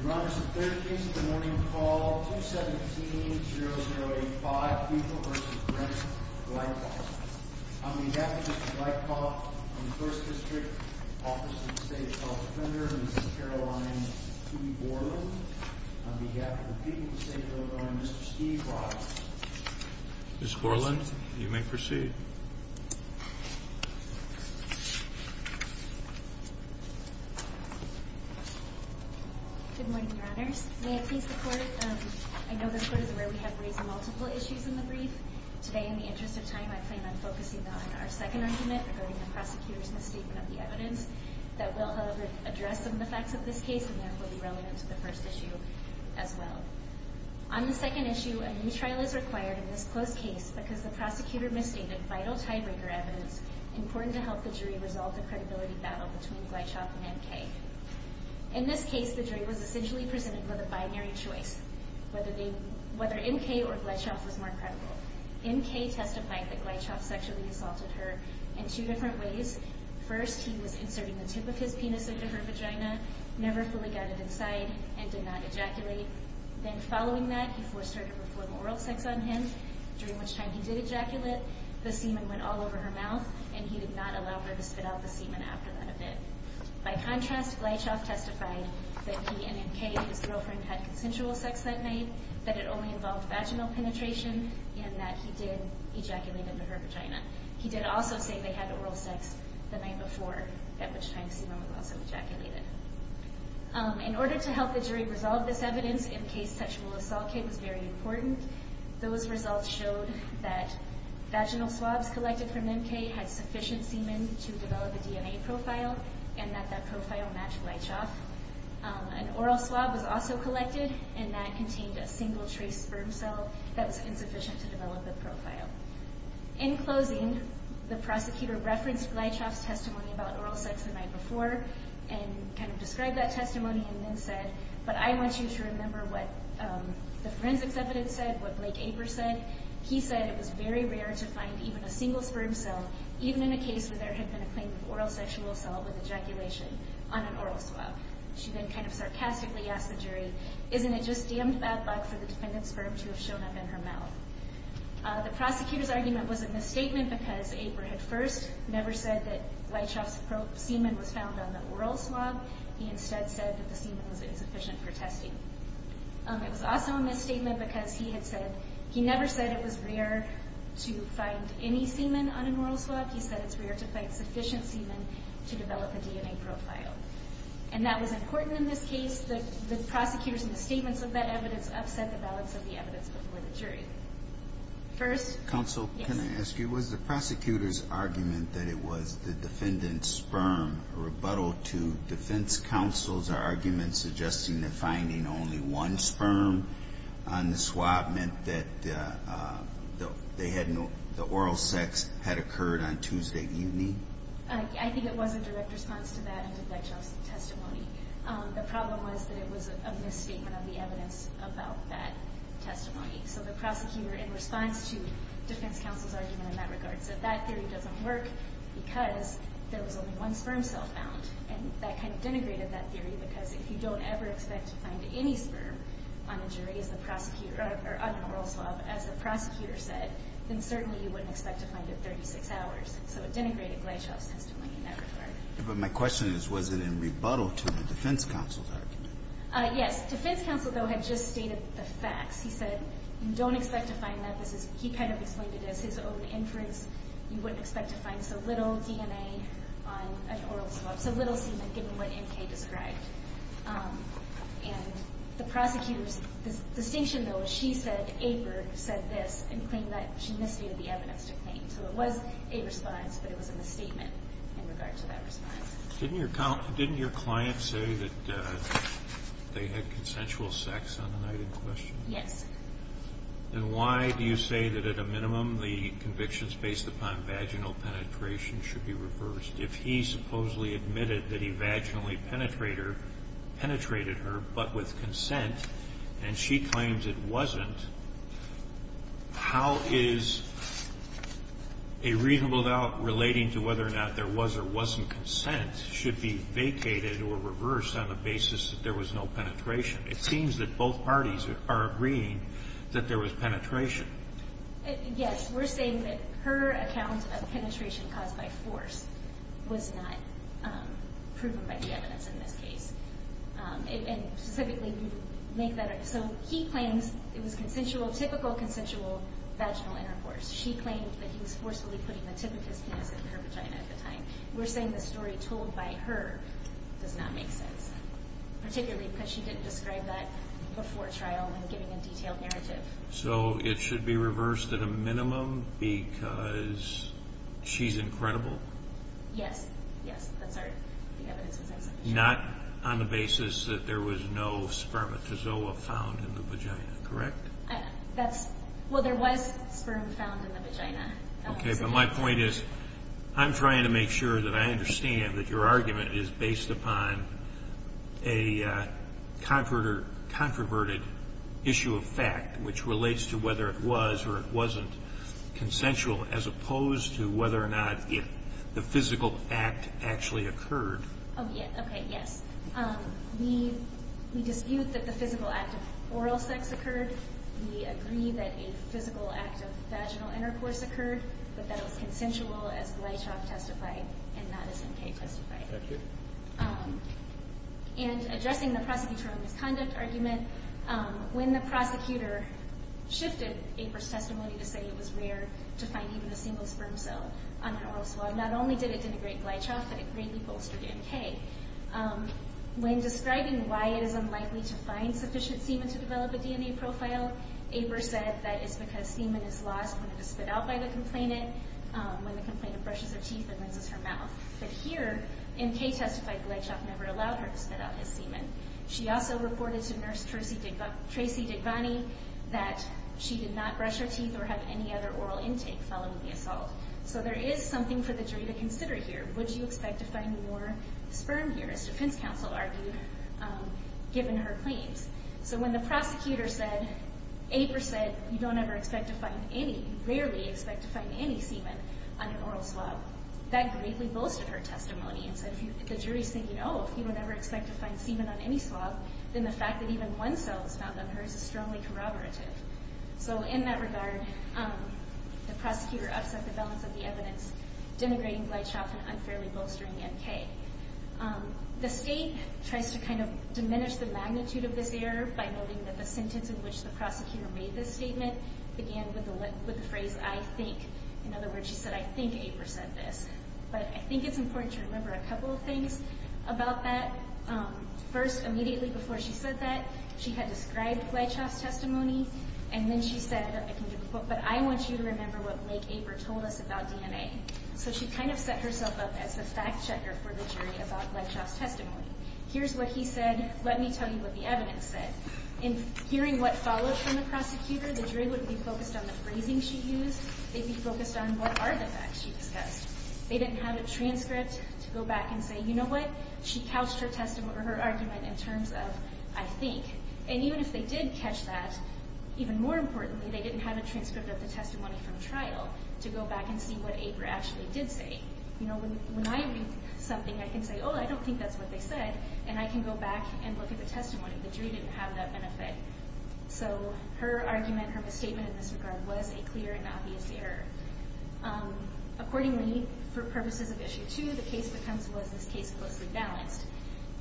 Your Honor, this is the third case of the morning of the fall, 217-0085, Buechel v. Brent Gleichauf. On behalf of Mr. Gleichauf, I'm the 1st District Office of the State's Health Defender in St. Caroline, P. Borland. On behalf of the people of the state of Illinois, I'm Mr. Steve Rogers. Ms. Borland, you may proceed. Good morning, Your Honors. May it please the Court, I know the Court is aware we have raised multiple issues in the brief. Today, in the interest of time, I plan on focusing on our second argument regarding the prosecutor's misstatement of the evidence that will, however, address some of the facts of this case and therefore be relevant to the first issue as well. On the second issue, a new trial is required in this closed case because the prosecutor misstated vital tiebreaker evidence important to help the jury resolve the credibility battle between Gleichauf and M.K. In this case, the jury was essentially presented with a binary choice, whether M.K. or Gleichauf was more credible. M.K. testified that Gleichauf sexually assaulted her in two different ways. First, he was inserting the tip of his penis into her vagina, never fully got it inside, and did not ejaculate. Then, following that, he forced her to perform oral sex on him, during which time he did ejaculate. The semen went all over her mouth, and he did not allow her to spit out the semen after that event. By contrast, Gleichauf testified that he and M.K. and his girlfriend had consensual sex that night, that it only involved vaginal penetration, and that he did ejaculate into her vagina. He did also say they had oral sex the night before, at which time semen was also ejaculated. In order to help the jury resolve this evidence, M.K.'s sexual assault case was very important. Those results showed that vaginal swabs collected from M.K. had sufficient semen to develop a DNA profile, and that that profile matched Gleichauf. An oral swab was also collected, and that contained a single-trace sperm cell that was insufficient to develop a profile. In closing, the prosecutor referenced Gleichauf's testimony about oral sex the night before, and kind of described that testimony, and then said, but I want you to remember what the forensics evidence said, what Blake Aper said. He said it was very rare to find even a single sperm cell, even in a case where there had been a claim of oral sexual assault with ejaculation, on an oral swab. She then kind of sarcastically asked the jury, isn't it just damned bad luck for the defendant's sperm to have shown up in her mouth? The prosecutor's argument was a misstatement, because Aper had first never said that Gleichauf's semen was found on the oral swab. He instead said that the semen was insufficient for testing. It was also a misstatement because he had said, he never said it was rare to find any semen on an oral swab. He said it's rare to find sufficient semen to develop a DNA profile. And that was important in this case. The prosecutors' misstatements of that evidence upset the balance of the evidence before the jury. First... Counsel, can I ask you, was the prosecutor's argument that it was the defendant's sperm a rebuttal to defense counsel's argument suggesting that finding only one sperm on the swab meant that the oral sex had occurred on Tuesday evening? I think it was a direct response to that and to Gleichauf's testimony. The problem was that it was a misstatement of the evidence about that testimony. So the prosecutor, in response to defense counsel's argument in that regard, said that theory doesn't work because there was only one sperm cell found. And that kind of denigrated that theory, because if you don't ever expect to find any sperm on an oral swab, as the prosecutor said, then certainly you wouldn't expect to find it 36 hours. So it denigrated Gleichauf's testimony in that regard. But my question is, was it a rebuttal to the defense counsel's argument? Yes. Defense counsel, though, had just stated the facts. He said you don't expect to find that. He kind of explained it as his own inference. You wouldn't expect to find so little DNA on an oral swab, so little semen, given what N.K. described. And the prosecutor's distinction, though, is she said Aper said this and claimed that she misstated the evidence to claim. So it was a response, but it was a misstatement in regard to that response. Didn't your client say that they had consensual sex on the night in question? Yes. Then why do you say that, at a minimum, the convictions based upon vaginal penetration should be reversed? If he supposedly admitted that he vaginally penetrated her, but with consent, and she claims it wasn't, how is a rebuttal relating to whether or not there was or wasn't consent should be vacated or reversed on the basis that there was no penetration? It seems that both parties are agreeing that there was penetration. Yes. We're saying that her account of penetration caused by force was not proven by the evidence in this case. So he claims it was consensual, typical consensual vaginal intercourse. She claimed that he was forcefully putting the tip of his penis into her vagina at the time. We're saying the story told by her does not make sense, particularly because she didn't describe that before trial when giving a detailed narrative. So it should be reversed at a minimum because she's incredible? Yes, yes, that's our evidence. Not on the basis that there was no spermatozoa found in the vagina, correct? Well, there was sperm found in the vagina. Okay, but my point is I'm trying to make sure that I understand that your argument is based upon a controverted issue of fact which relates to whether it was or it wasn't consensual as opposed to whether or not the physical act actually occurred. Okay, yes. We dispute that the physical act of oral sex occurred. We agree that a physical act of vaginal intercourse occurred, but that it was consensual as Gleitchoff testified and not as M.K. testified. And addressing the prosecutor on misconduct argument, when the prosecutor shifted April's testimony to say it was rare to find even a single sperm cell on her oral swab, not only did it denigrate Gleitchoff, but it greatly bolstered M.K. When describing why it is unlikely to find sufficient semen to develop a DNA profile, April said that it's because semen is lost when it is spit out by the complainant, when the complainant brushes her teeth and rinses her mouth. But here, M.K. testified Gleitchoff never allowed her to spit out his semen. She also reported to nurse Tracy Digvani that she did not brush her teeth or have any other oral intake following the assault. So there is something for the jury to consider here. Would you expect to find more sperm here, as defense counsel argued, given her claims? So when the prosecutor said, April said, you don't ever expect to find any, you rarely expect to find any semen on your oral swab, that greatly bolstered her testimony. And so the jury's thinking, oh, if you would never expect to find semen on any swab, then the fact that even one cell was found on hers is strongly corroborative. So in that regard, the prosecutor upset the balance of the evidence, denigrating Gleitchoff and unfairly bolstering M.K. The state tries to kind of diminish the magnitude of this error by noting that the sentence in which the prosecutor made this statement began with the phrase, I think. In other words, she said, I think April said this. But I think it's important to remember a couple of things about that. First, immediately before she said that, she had described Gleitchoff's testimony. And then she said, but I want you to remember what Blake Aper told us about DNA. So she kind of set herself up as the fact checker for the jury about Gleitchoff's testimony. Here's what he said. Let me tell you what the evidence said. In hearing what followed from the prosecutor, the jury wouldn't be focused on the phrasing she used. They'd be focused on what are the facts she discussed. They didn't have a transcript to go back and say, you know what? She couched her argument in terms of, I think. And even if they did catch that, even more importantly, they didn't have a transcript of the testimony from trial to go back and see what Aper actually did say. You know, when I read something, I can say, oh, I don't think that's what they said. And I can go back and look at the testimony. The jury didn't have that benefit. So her argument, her misstatement in this regard, was a clear and obvious error. Accordingly, for purposes of Issue 2, the case becomes, was this case closely balanced?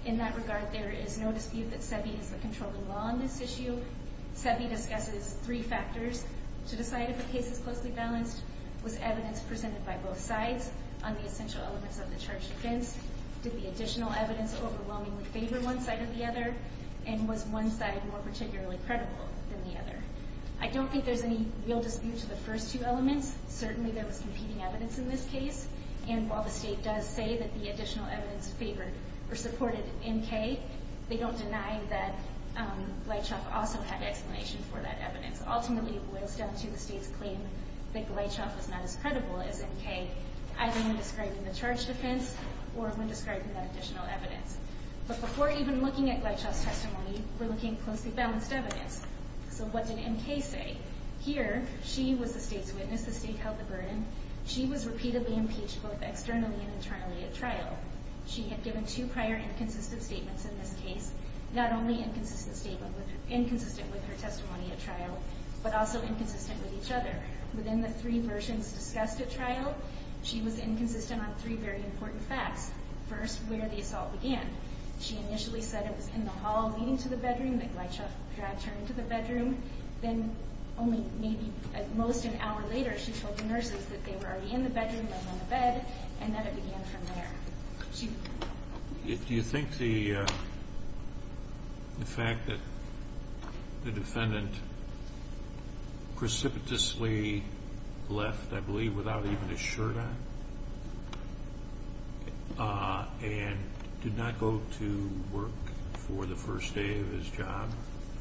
In that regard, there is no dispute that SEBI is the controlling law on this issue. SEBI discusses three factors to decide if a case is closely balanced. Was evidence presented by both sides on the essential elements of the charge against? Did the additional evidence overwhelmingly favor one side or the other? And was one side more particularly credible than the other? I don't think there's any real dispute to the first two elements. Certainly, there was competing evidence in this case. And while the State does say that the additional evidence favored or supported NK, they don't deny that Gleitchoff also had explanation for that evidence. Ultimately, it boils down to the State's claim that Gleitchoff was not as credible as NK, either when describing the charge defense or when describing that additional evidence. But before even looking at Gleitchoff's testimony, we're looking at closely balanced evidence. So what did NK say? Here, she was the State's witness. The State held the burden. She was repeatedly impeached both externally and internally at trial. She had given two prior inconsistent statements in this case, not only inconsistent with her testimony at trial, but also inconsistent with each other. Within the three versions discussed at trial, she was inconsistent on three very important facts. First, where the assault began. She initially said it was in the hall leading to the bedroom, that Gleitchoff dragged her into the bedroom. Then only maybe at most an hour later, she told the nurses that they were already in the bedroom, they were on the bed, and that it began from there. Do you think the fact that the defendant precipitously left, I believe, without even his shirt on and did not go to work for the first day of his job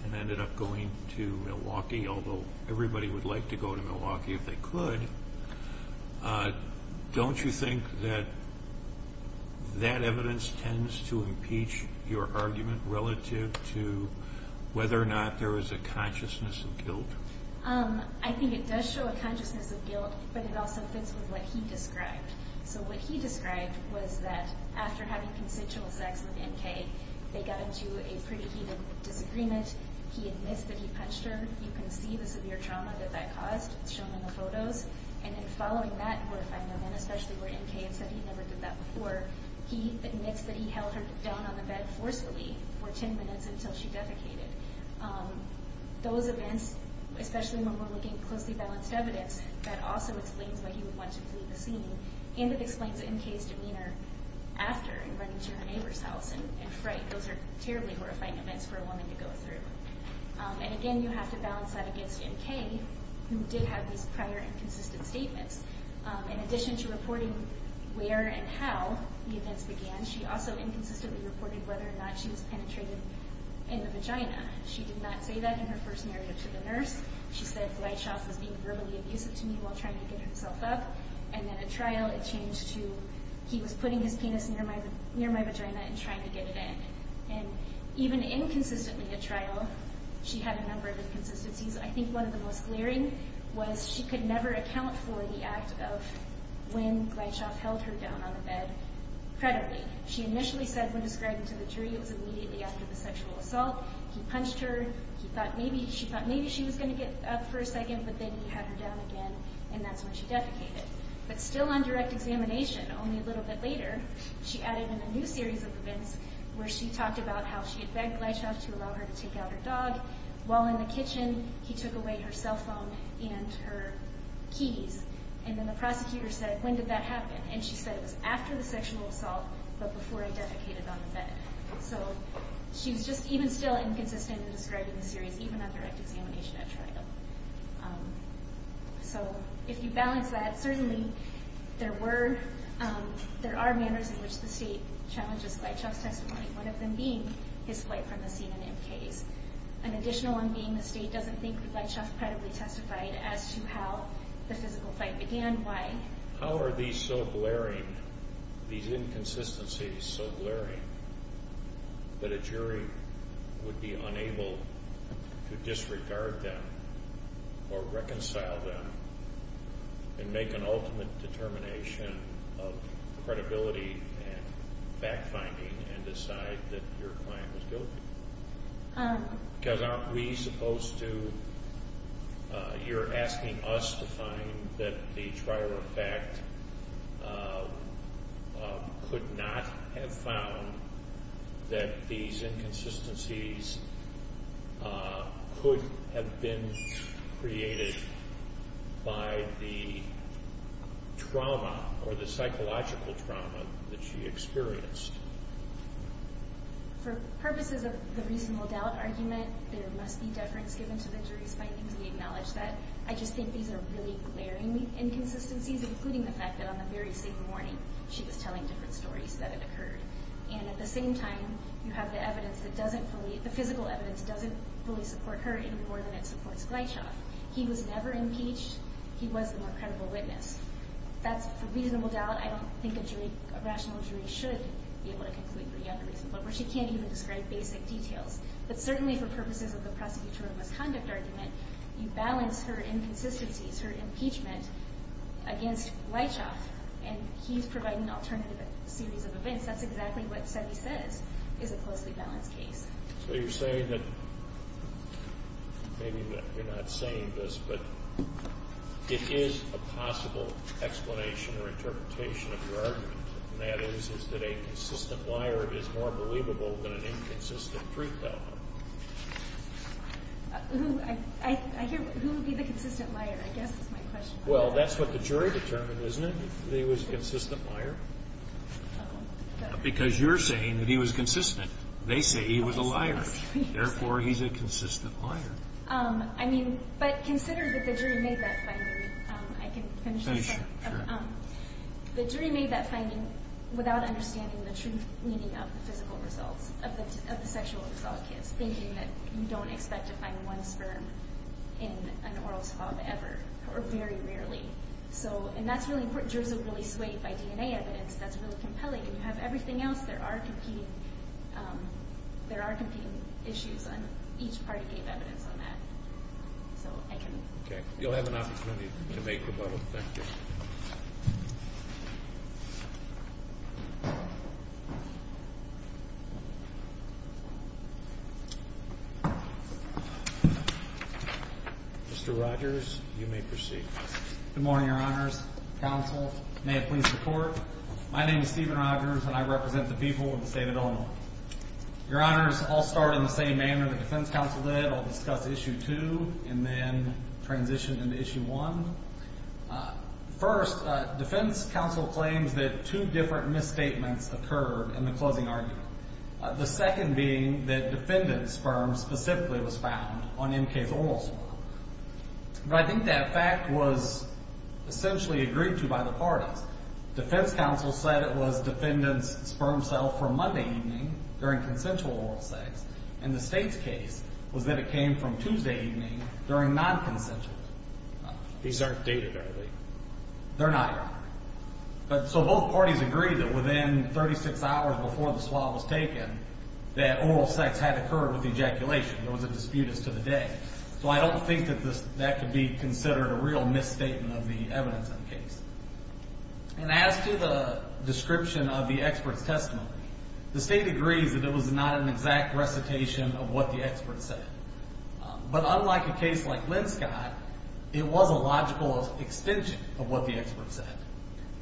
and ended up going to Milwaukee, although everybody would like to go to Milwaukee if they could, don't you think that that evidence tends to impeach your argument relative to whether or not there is a consciousness of guilt? I think it does show a consciousness of guilt, but it also fits with what he described. So what he described was that after having consensual sex with N.K., they got into a pretty heated disagreement. He admits that he punched her. You can see the severe trauma that that caused. It's shown in the photos. And then following that, where if I know then especially where N.K. had said he never did that before, he admits that he held her down on the bed forcefully for ten minutes until she defecated. Those events, especially when we're looking at closely balanced evidence, that also explains why he would want to leave the scene, and it explains N.K.'s demeanor after and running to her neighbor's house in fright. Those are terribly horrifying events for a woman to go through. And again, you have to balance that against N.K., who did have these prior inconsistent statements. In addition to reporting where and how the events began, she also inconsistently reported whether or not she was penetrating in the vagina. She did not say that in her first narrative to the nurse. She said Gleitschoff was being verbally abusive to me while trying to get herself up. And then at trial, it changed to he was putting his penis near my vagina and trying to get it in. And even inconsistently at trial, she had a number of inconsistencies. I think one of the most glaring was she could never account for the act of when Gleitschoff held her down on the bed credibly. She initially said when described to the jury it was immediately after the sexual assault. He punched her. She thought maybe she was going to get up for a second, but then he had her down again, and that's when she defecated. But still on direct examination, only a little bit later, she added in a new series of events where she talked about how she had begged Gleitschoff to allow her to take out her dog. While in the kitchen, he took away her cell phone and her keys. And then the prosecutor said, when did that happen? And she said it was after the sexual assault, but before he defecated on the bed. So she was just even still inconsistent in describing the series, even on direct examination at trial. So if you balance that, certainly there are manners in which the state challenges Gleitschoff's testimony, one of them being his flight from the scene in MKs. An additional one being the state doesn't think Gleitschoff credibly testified as to how the physical fight began, why. How are these so glaring, these inconsistencies so glaring, that a jury would be unable to disregard them or reconcile them and make an ultimate determination of credibility and fact-finding and decide that your client was guilty? Because aren't we supposed to, you're asking us to find that the trial of fact could not have found that these inconsistencies could have been created by the trauma or the psychological trauma that she experienced? For purposes of the reasonable doubt argument, there must be deference given to the jury's findings. We acknowledge that. I just think these are really glaring inconsistencies, including the fact that on the very same morning she was telling different stories that had occurred. And at the same time, you have the evidence that doesn't fully, the physical evidence doesn't fully support her any more than it supports Gleitschoff. He was never impeached. He was the more credible witness. That's for reasonable doubt. I don't think a jury, a rational jury should be able to conclude pretty unreasonably, where she can't even describe basic details. But certainly for purposes of the prosecutorial misconduct argument, you balance her inconsistencies, her impeachment, against Gleitschoff. And he's providing an alternative series of events. That's exactly what SETI says is a closely balanced case. So you're saying that maybe you're not saying this, but it is a possible explanation or interpretation of your argument, and that is that a consistent liar is more believable than an inconsistent truth teller. Who would be the consistent liar, I guess, is my question. Well, that's what the jury determined, isn't it, that he was a consistent liar? Because you're saying that he was consistent. They say he was a liar. Therefore, he's a consistent liar. I mean, but consider that the jury made that finding. I can finish this up. The jury made that finding without understanding the true meaning of the physical results of the sexual assault case, thinking that you don't expect to find one sperm in an oral swab ever, or very rarely. And that's really important. Jurors are really swayed by DNA evidence. That's really compelling. If you have everything else, there are competing issues, and each party gave evidence on that. So I can move. Okay. You'll have an opportunity to make rebuttal. Thank you. Thank you. Mr. Rogers, you may proceed. Good morning, Your Honors. Counsel, may it please the Court. My name is Stephen Rogers, and I represent the people of the state of Illinois. Your Honors, I'll start in the same manner the defense counsel did. I'll discuss Issue 2 and then transition into Issue 1. First, defense counsel claims that two different misstatements occurred in the closing argument, the second being that defendant's sperm specifically was found on M.K.'s oral swab. But I think that fact was essentially agreed to by the parties. Defense counsel said it was defendant's sperm cell from Monday evening during consensual oral sex, and the state's case was that it came from Tuesday evening during non-consensual oral sex. These aren't dated, are they? They're not, Your Honor. So both parties agreed that within 36 hours before the swab was taken that oral sex had occurred with ejaculation. There was a dispute as to the day. So I don't think that that could be considered a real misstatement of the evidence in the case. And as to the description of the expert's testimony, the state agrees that it was not an exact recitation of what the expert said. But unlike a case like Linscott, it was a logical extension of what the expert said.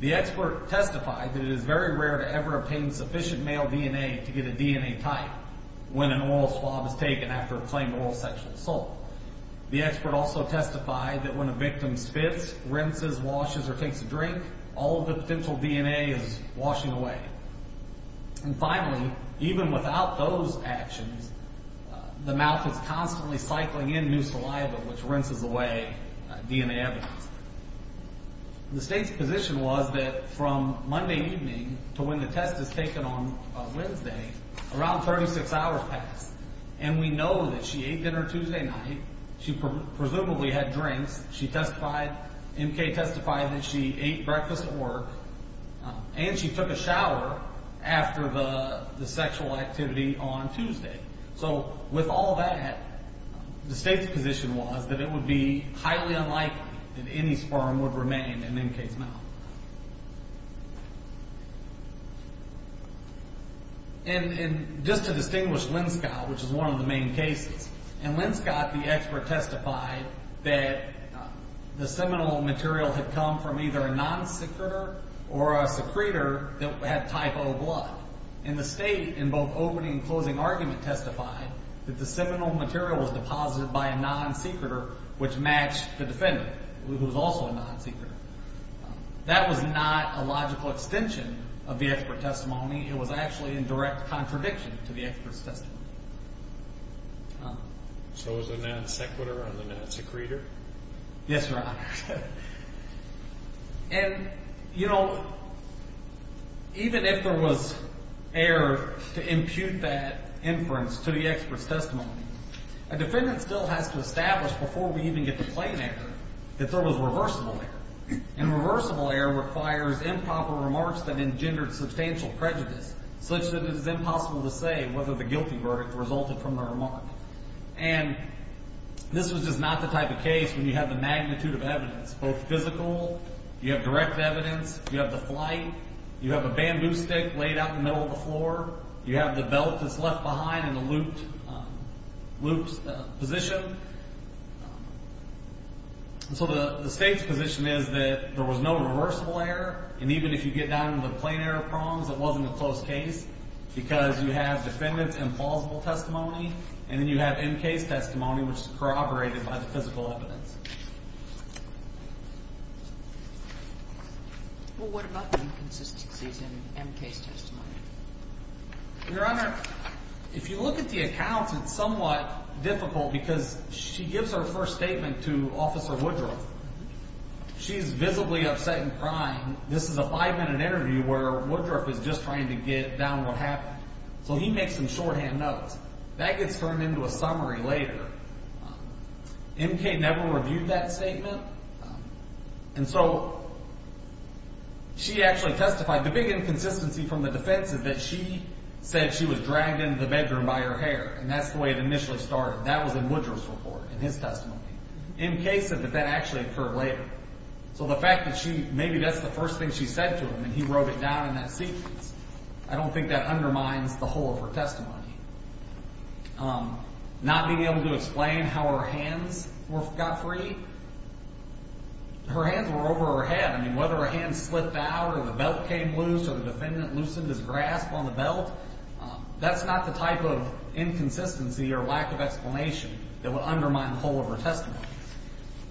The expert testified that it is very rare to ever obtain sufficient male DNA to get a DNA type when an oral swab is taken after a claimed oral sexual assault. The expert also testified that when a victim spits, rinses, washes, or takes a drink, all of the potential DNA is washing away. And finally, even without those actions, the mouth is constantly cycling in new saliva, which rinses away DNA evidence. The state's position was that from Monday evening to when the test is taken on Wednesday, around 36 hours passed, and we know that she ate dinner Tuesday night. She presumably had drinks. She testified, M.K. testified that she ate breakfast at work, and she took a shower after the sexual activity on Tuesday. So with all that, the state's position was that it would be highly unlikely that any sperm would remain in M.K.'s mouth. And just to distinguish Linscott, which is one of the main cases, and Linscott, the expert, testified that the seminal material had come from either a non-secretor or a secretor that had type O blood. And the state, in both opening and closing argument, testified that the seminal material was deposited by a non-secretor, which matched the defendant, who was also a non-secretor. That was not a logical extension of the expert's testimony. It was actually in direct contradiction to the expert's testimony. So it was a non-sequitor and a non-secretor? Yes, Your Honor. And, you know, even if there was error to impute that inference to the expert's testimony, a defendant still has to establish before we even get to plain error that there was reversible error. And reversible error requires improper remarks that engendered substantial prejudice, such that it is impossible to say whether the guilty verdict resulted from the remark. And this was just not the type of case when you have the magnitude of evidence, both physical, you have direct evidence, you have the flight, you have a bamboo stick laid out in the middle of the floor, you have the belt that's left behind in a looped position. So the State's position is that there was no reversible error, and even if you get down to the plain error prongs, it wasn't a close case, because you have defendant's implausible testimony, and then you have M. Case testimony, which is corroborated by the physical evidence. Well, what about inconsistencies in M. Case testimony? Your Honor, if you look at the accounts, it's somewhat difficult, because she gives her first statement to Officer Woodruff. She's visibly upset and crying. This is a five-minute interview where Woodruff is just trying to get down what happened. So he makes some shorthand notes. That gets turned into a summary later. M. Case never reviewed that statement. And so she actually testified. The big inconsistency from the defense is that she said she was dragged into the bedroom by her hair, and that's the way it initially started. That was in Woodruff's report, in his testimony. M. Case said that that actually occurred later. So the fact that maybe that's the first thing she said to him, and he wrote it down in that sequence, I don't think that undermines the whole of her testimony. Not being able to explain how her hands got free. Her hands were over her head. I mean, whether her hands slipped out or the belt came loose or the defendant loosened his grasp on the belt, that's not the type of inconsistency or lack of explanation that would undermine the whole of her testimony.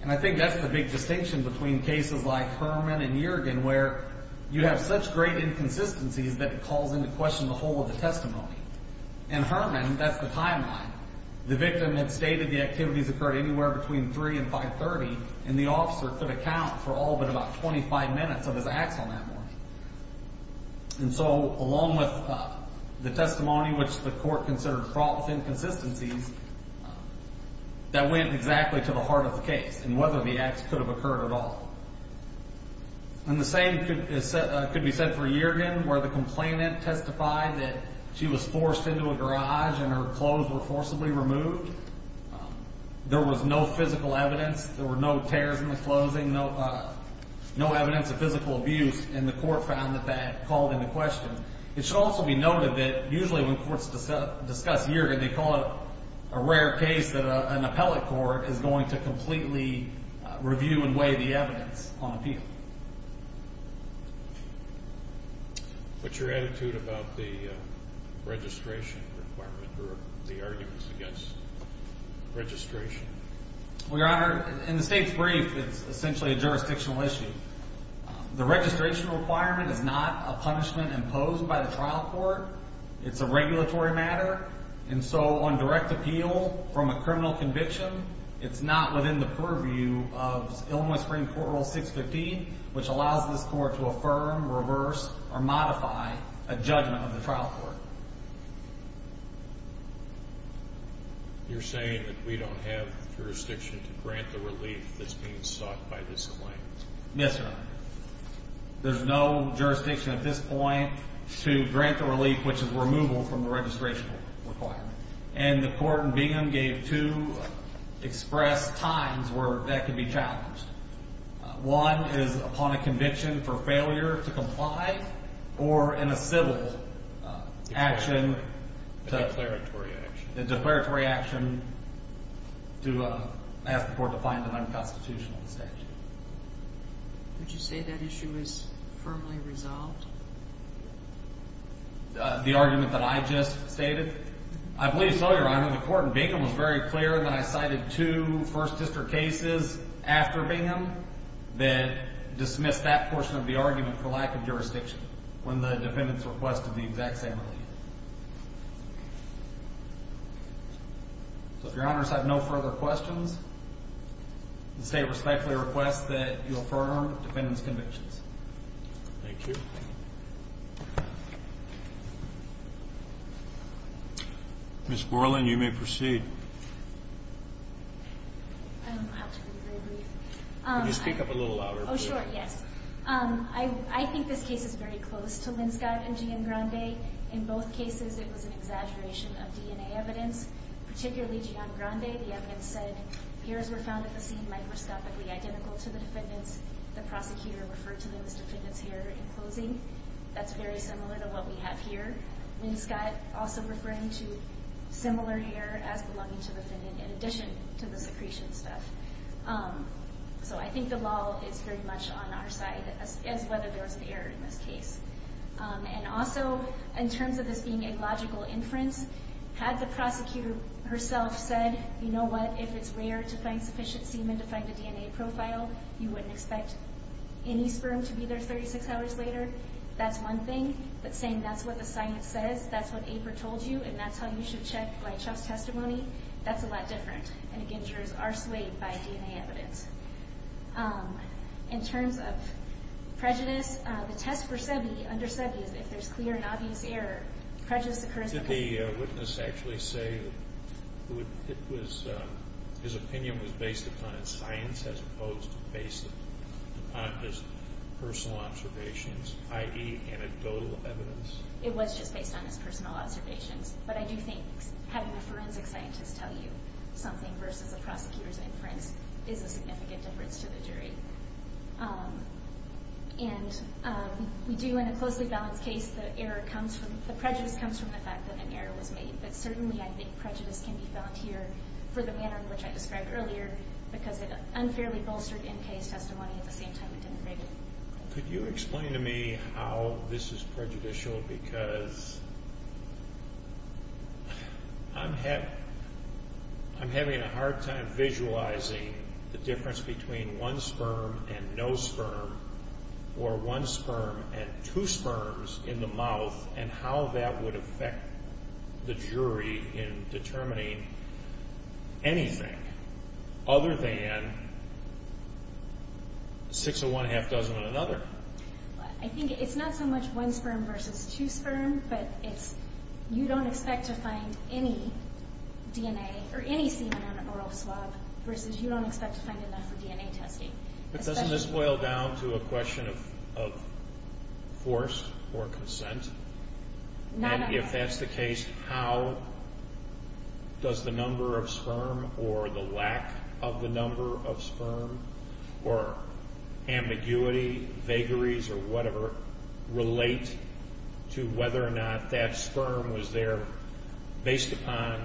And I think that's the big distinction between cases like Herman and Yergin, where you have such great inconsistencies that it calls into question the whole of the testimony. In Herman, that's the timeline. The victim had stated the activities occurred anywhere between 3 and 5.30, and the officer could account for all but about 25 minutes of his acts on that morning. And so along with the testimony, which the court considered fraught with inconsistencies, that went exactly to the heart of the case and whether the acts could have occurred at all. And the same could be said for Yergin, where the complainant testified that she was forced into a garage and her clothes were forcibly removed. There was no physical evidence. There were no tears in the clothing, no evidence of physical abuse, and the court found that that called into question. It should also be noted that usually when courts discuss Yergin, they call it a rare case that an appellate court is going to completely review and weigh the evidence on appeal. What's your attitude about the registration requirement or the arguments against registration? Well, Your Honor, in the state's brief, it's essentially a jurisdictional issue. The registration requirement is not a punishment imposed by the trial court. It's a regulatory matter, and so on direct appeal from a criminal conviction, it's not within the purview of Illinois Supreme Court Rule 615, which allows this court to affirm, reverse, or modify a judgment of the trial court. You're saying that we don't have jurisdiction to grant the relief that's being sought by this claim? Yes, Your Honor. There's no jurisdiction at this point to grant the relief, which is removal from the registration requirement. And the court in Bingham gave two express times where that could be challenged. One is upon a conviction for failure to comply or in a civil action. A declaratory action. A declaratory action to ask the court to find an unconstitutional statute. Would you say that issue is firmly resolved? The argument that I just stated? I believe so, Your Honor. The court in Bingham was very clear that I cited two First District cases after Bingham that dismissed that portion of the argument for lack of jurisdiction when the defendants requested the exact same relief. So if Your Honors have no further questions, the State respectfully requests that you affirm the defendant's convictions. Thank you. Ms. Gorlin, you may proceed. I don't know how to be very brief. Can you speak up a little louder, please? Oh, sure, yes. I think this case is very close to Linscott and Giangrande. In both cases, it was an exaggeration of DNA evidence, particularly Giangrande. The evidence said hairs were found at the scene microscopically identical to the defendant's. The prosecutor referred to the defendant's hair in closing. That's very similar to what we have here. Linscott also referring to similar hair as belonging to the defendant in addition to the secretion stuff. So I think the law is very much on our side as whether there was an error in this case. And also, in terms of this being a logical inference, had the prosecutor herself said, you know what, if it's rare to find sufficient semen to find a DNA profile, you wouldn't expect any sperm to be there 36 hours later. That's one thing. But saying that's what the science says, that's what APER told you, and that's how you should check by just testimony, that's a lot different. And again, jurors are swayed by DNA evidence. In terms of prejudice, the test for Sebi, under Sebi, is if there's clear and obvious error, prejudice occurs. Did the witness actually say that his opinion was based upon his science as opposed to based upon his personal observations, i.e. anecdotal evidence? It was just based on his personal observations. But I do think having a forensic scientist tell you something versus a prosecutor's inference is a significant difference to the jury. And we do, in a closely balanced case, the prejudice comes from the fact that an error was made. But certainly I think prejudice can be found here for the manner in which I described earlier because it unfairly bolstered in-case testimony at the same time it didn't rate it. Could you explain to me how this is prejudicial? Because I'm having a hard time visualizing the difference between one sperm and no sperm or one sperm and two sperms in the mouth and how that would affect the jury in determining anything other than six of one, a half dozen of another. I think it's not so much one sperm versus two sperm, but you don't expect to find any DNA or any semen on an oral swab versus you don't expect to find enough for DNA testing. But doesn't this boil down to a question of force or consent? Not at all. And if that's the case, how does the number of sperm or the lack of the number of sperm or ambiguity, vagaries, or whatever, relate to whether or not that sperm was there based upon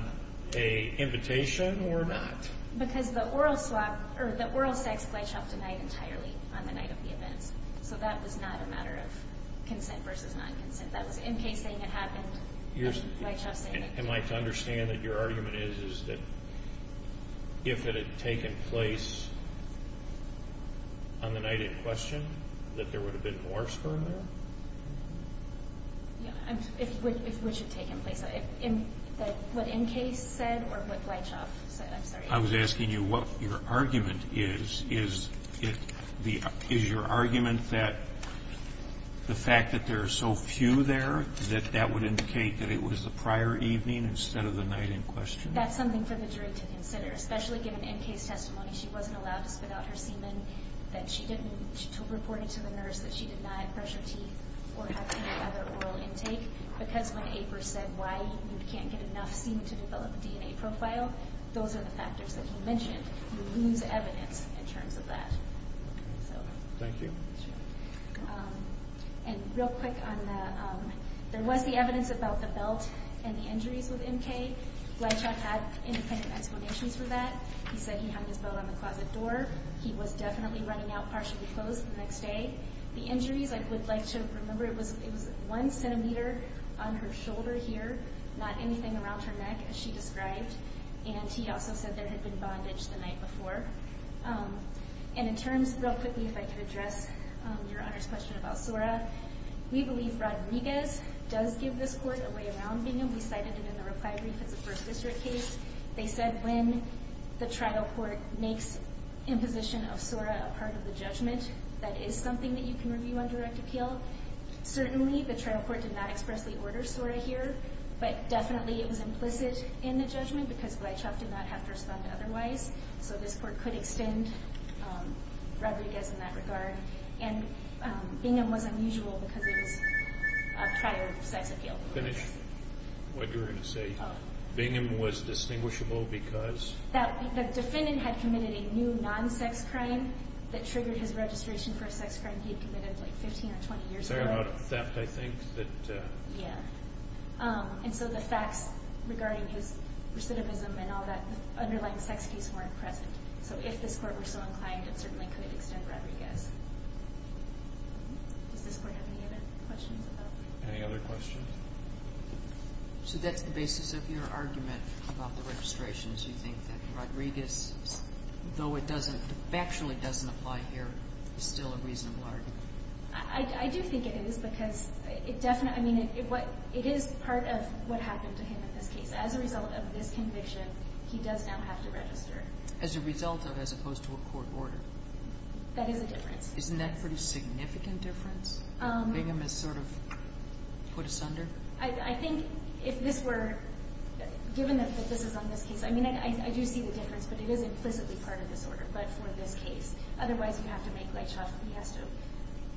an invitation or not? Because the oral sex glideshopped a night entirely on the night of the events. So that was not a matter of consent versus non-consent. That was in-case saying it happened, glideshopped saying it didn't. Am I to understand that your argument is that if it had taken place on the night in question that there would have been more sperm there? Yeah, if it would have taken place. What in-case said or what glideshopped said? I'm sorry. I was asking you what your argument is. Is your argument that the fact that there are so few there that that would indicate that it was the prior evening instead of the night in question? That's something for the jury to consider, especially given in-case testimony she wasn't allowed to spit out her semen, that she didn't report it to the nurse, that she did not brush her teeth or have any other oral intake. Because when April said why you can't get enough semen to develop a DNA profile, those are the factors that you mentioned. You lose evidence in terms of that. Thank you. And real quick, there was the evidence about the belt and the injuries with M.K. Glideshop had independent explanations for that. He said he hung his belt on the closet door. He was definitely running out partially closed the next day. The injuries, I would like to remember it was one centimeter on her shoulder here, not anything around her neck, as she described. And he also said there had been bondage the night before. And in terms, real quickly, if I could address Your Honor's question about SORA, we believe Rodriguez does give this court a way around being able to cite it in the reply brief as a First District case. They said when the trial court makes imposition of SORA a part of the judgment, that is something that you can review on direct appeal. Certainly the trial court did not expressly order SORA here, but definitely it was implicit in the judgment because Glideshop did not have to respond otherwise. So this court could extend Rodriguez in that regard. And Bingham was unusual because it was a prior sex appeal. Finish what you were going to say. Bingham was distinguishable because? The defendant had committed a new non-sex crime that triggered his registration for a sex crime he had committed like 15 or 20 years ago. Fair amount of theft, I think. Yeah. And so the facts regarding his recidivism and all that underlying sex abuse weren't present. So if this court were so inclined, it certainly could extend Rodriguez. Does this court have any other questions about that? Any other questions? So that's the basis of your argument about the registrations. You think that Rodriguez, though it doesn't, factually doesn't apply here, is still a reasonable argument. I do think it is because it is part of what happened to him in this case. As a result of this conviction, he does now have to register. As a result of as opposed to a court order? That is a difference. Isn't that a pretty significant difference that Bingham has sort of put asunder? I think if this were given that this is on this case, I do see the difference, but it is implicitly part of this order, but for this case. Otherwise, you have to make light shots.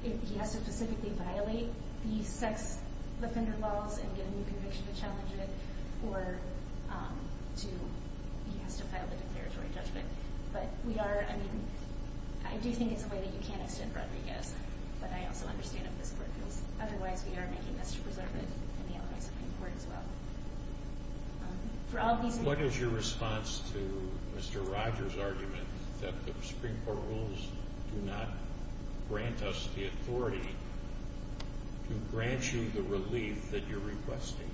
He has to specifically violate the sex offender laws and get a new conviction to challenge it, or he has to file the declaratory judgment. But we are, I mean, I do think it's a way that you can extend Rodriguez, but I also understand if this court feels otherwise. We are making this to preserve it in the elements of the court as well. What is your response to Mr. Rogers' argument that the Supreme Court rules do not grant us the authority to grant you the relief that you're requesting?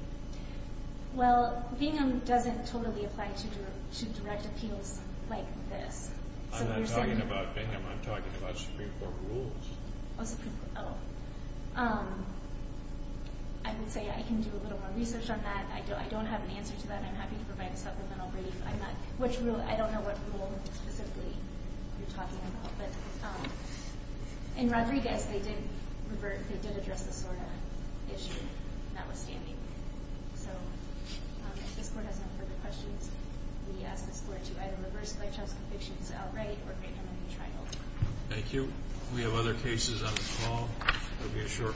Well, Bingham doesn't totally apply to direct appeals like this. I'm not talking about Bingham, I'm talking about Supreme Court rules. I would say I can do a little more research on that. I don't have an answer to that. I'm happy to provide a supplemental brief. I don't know what rule specifically you're talking about, but in Rodriguez, they did address this sort of issue, notwithstanding. So if this court has no further questions, we ask this court to either reverse their child's convictions outright or grant them a new trial. Thank you. If we have other cases on the call, there will be a short recess.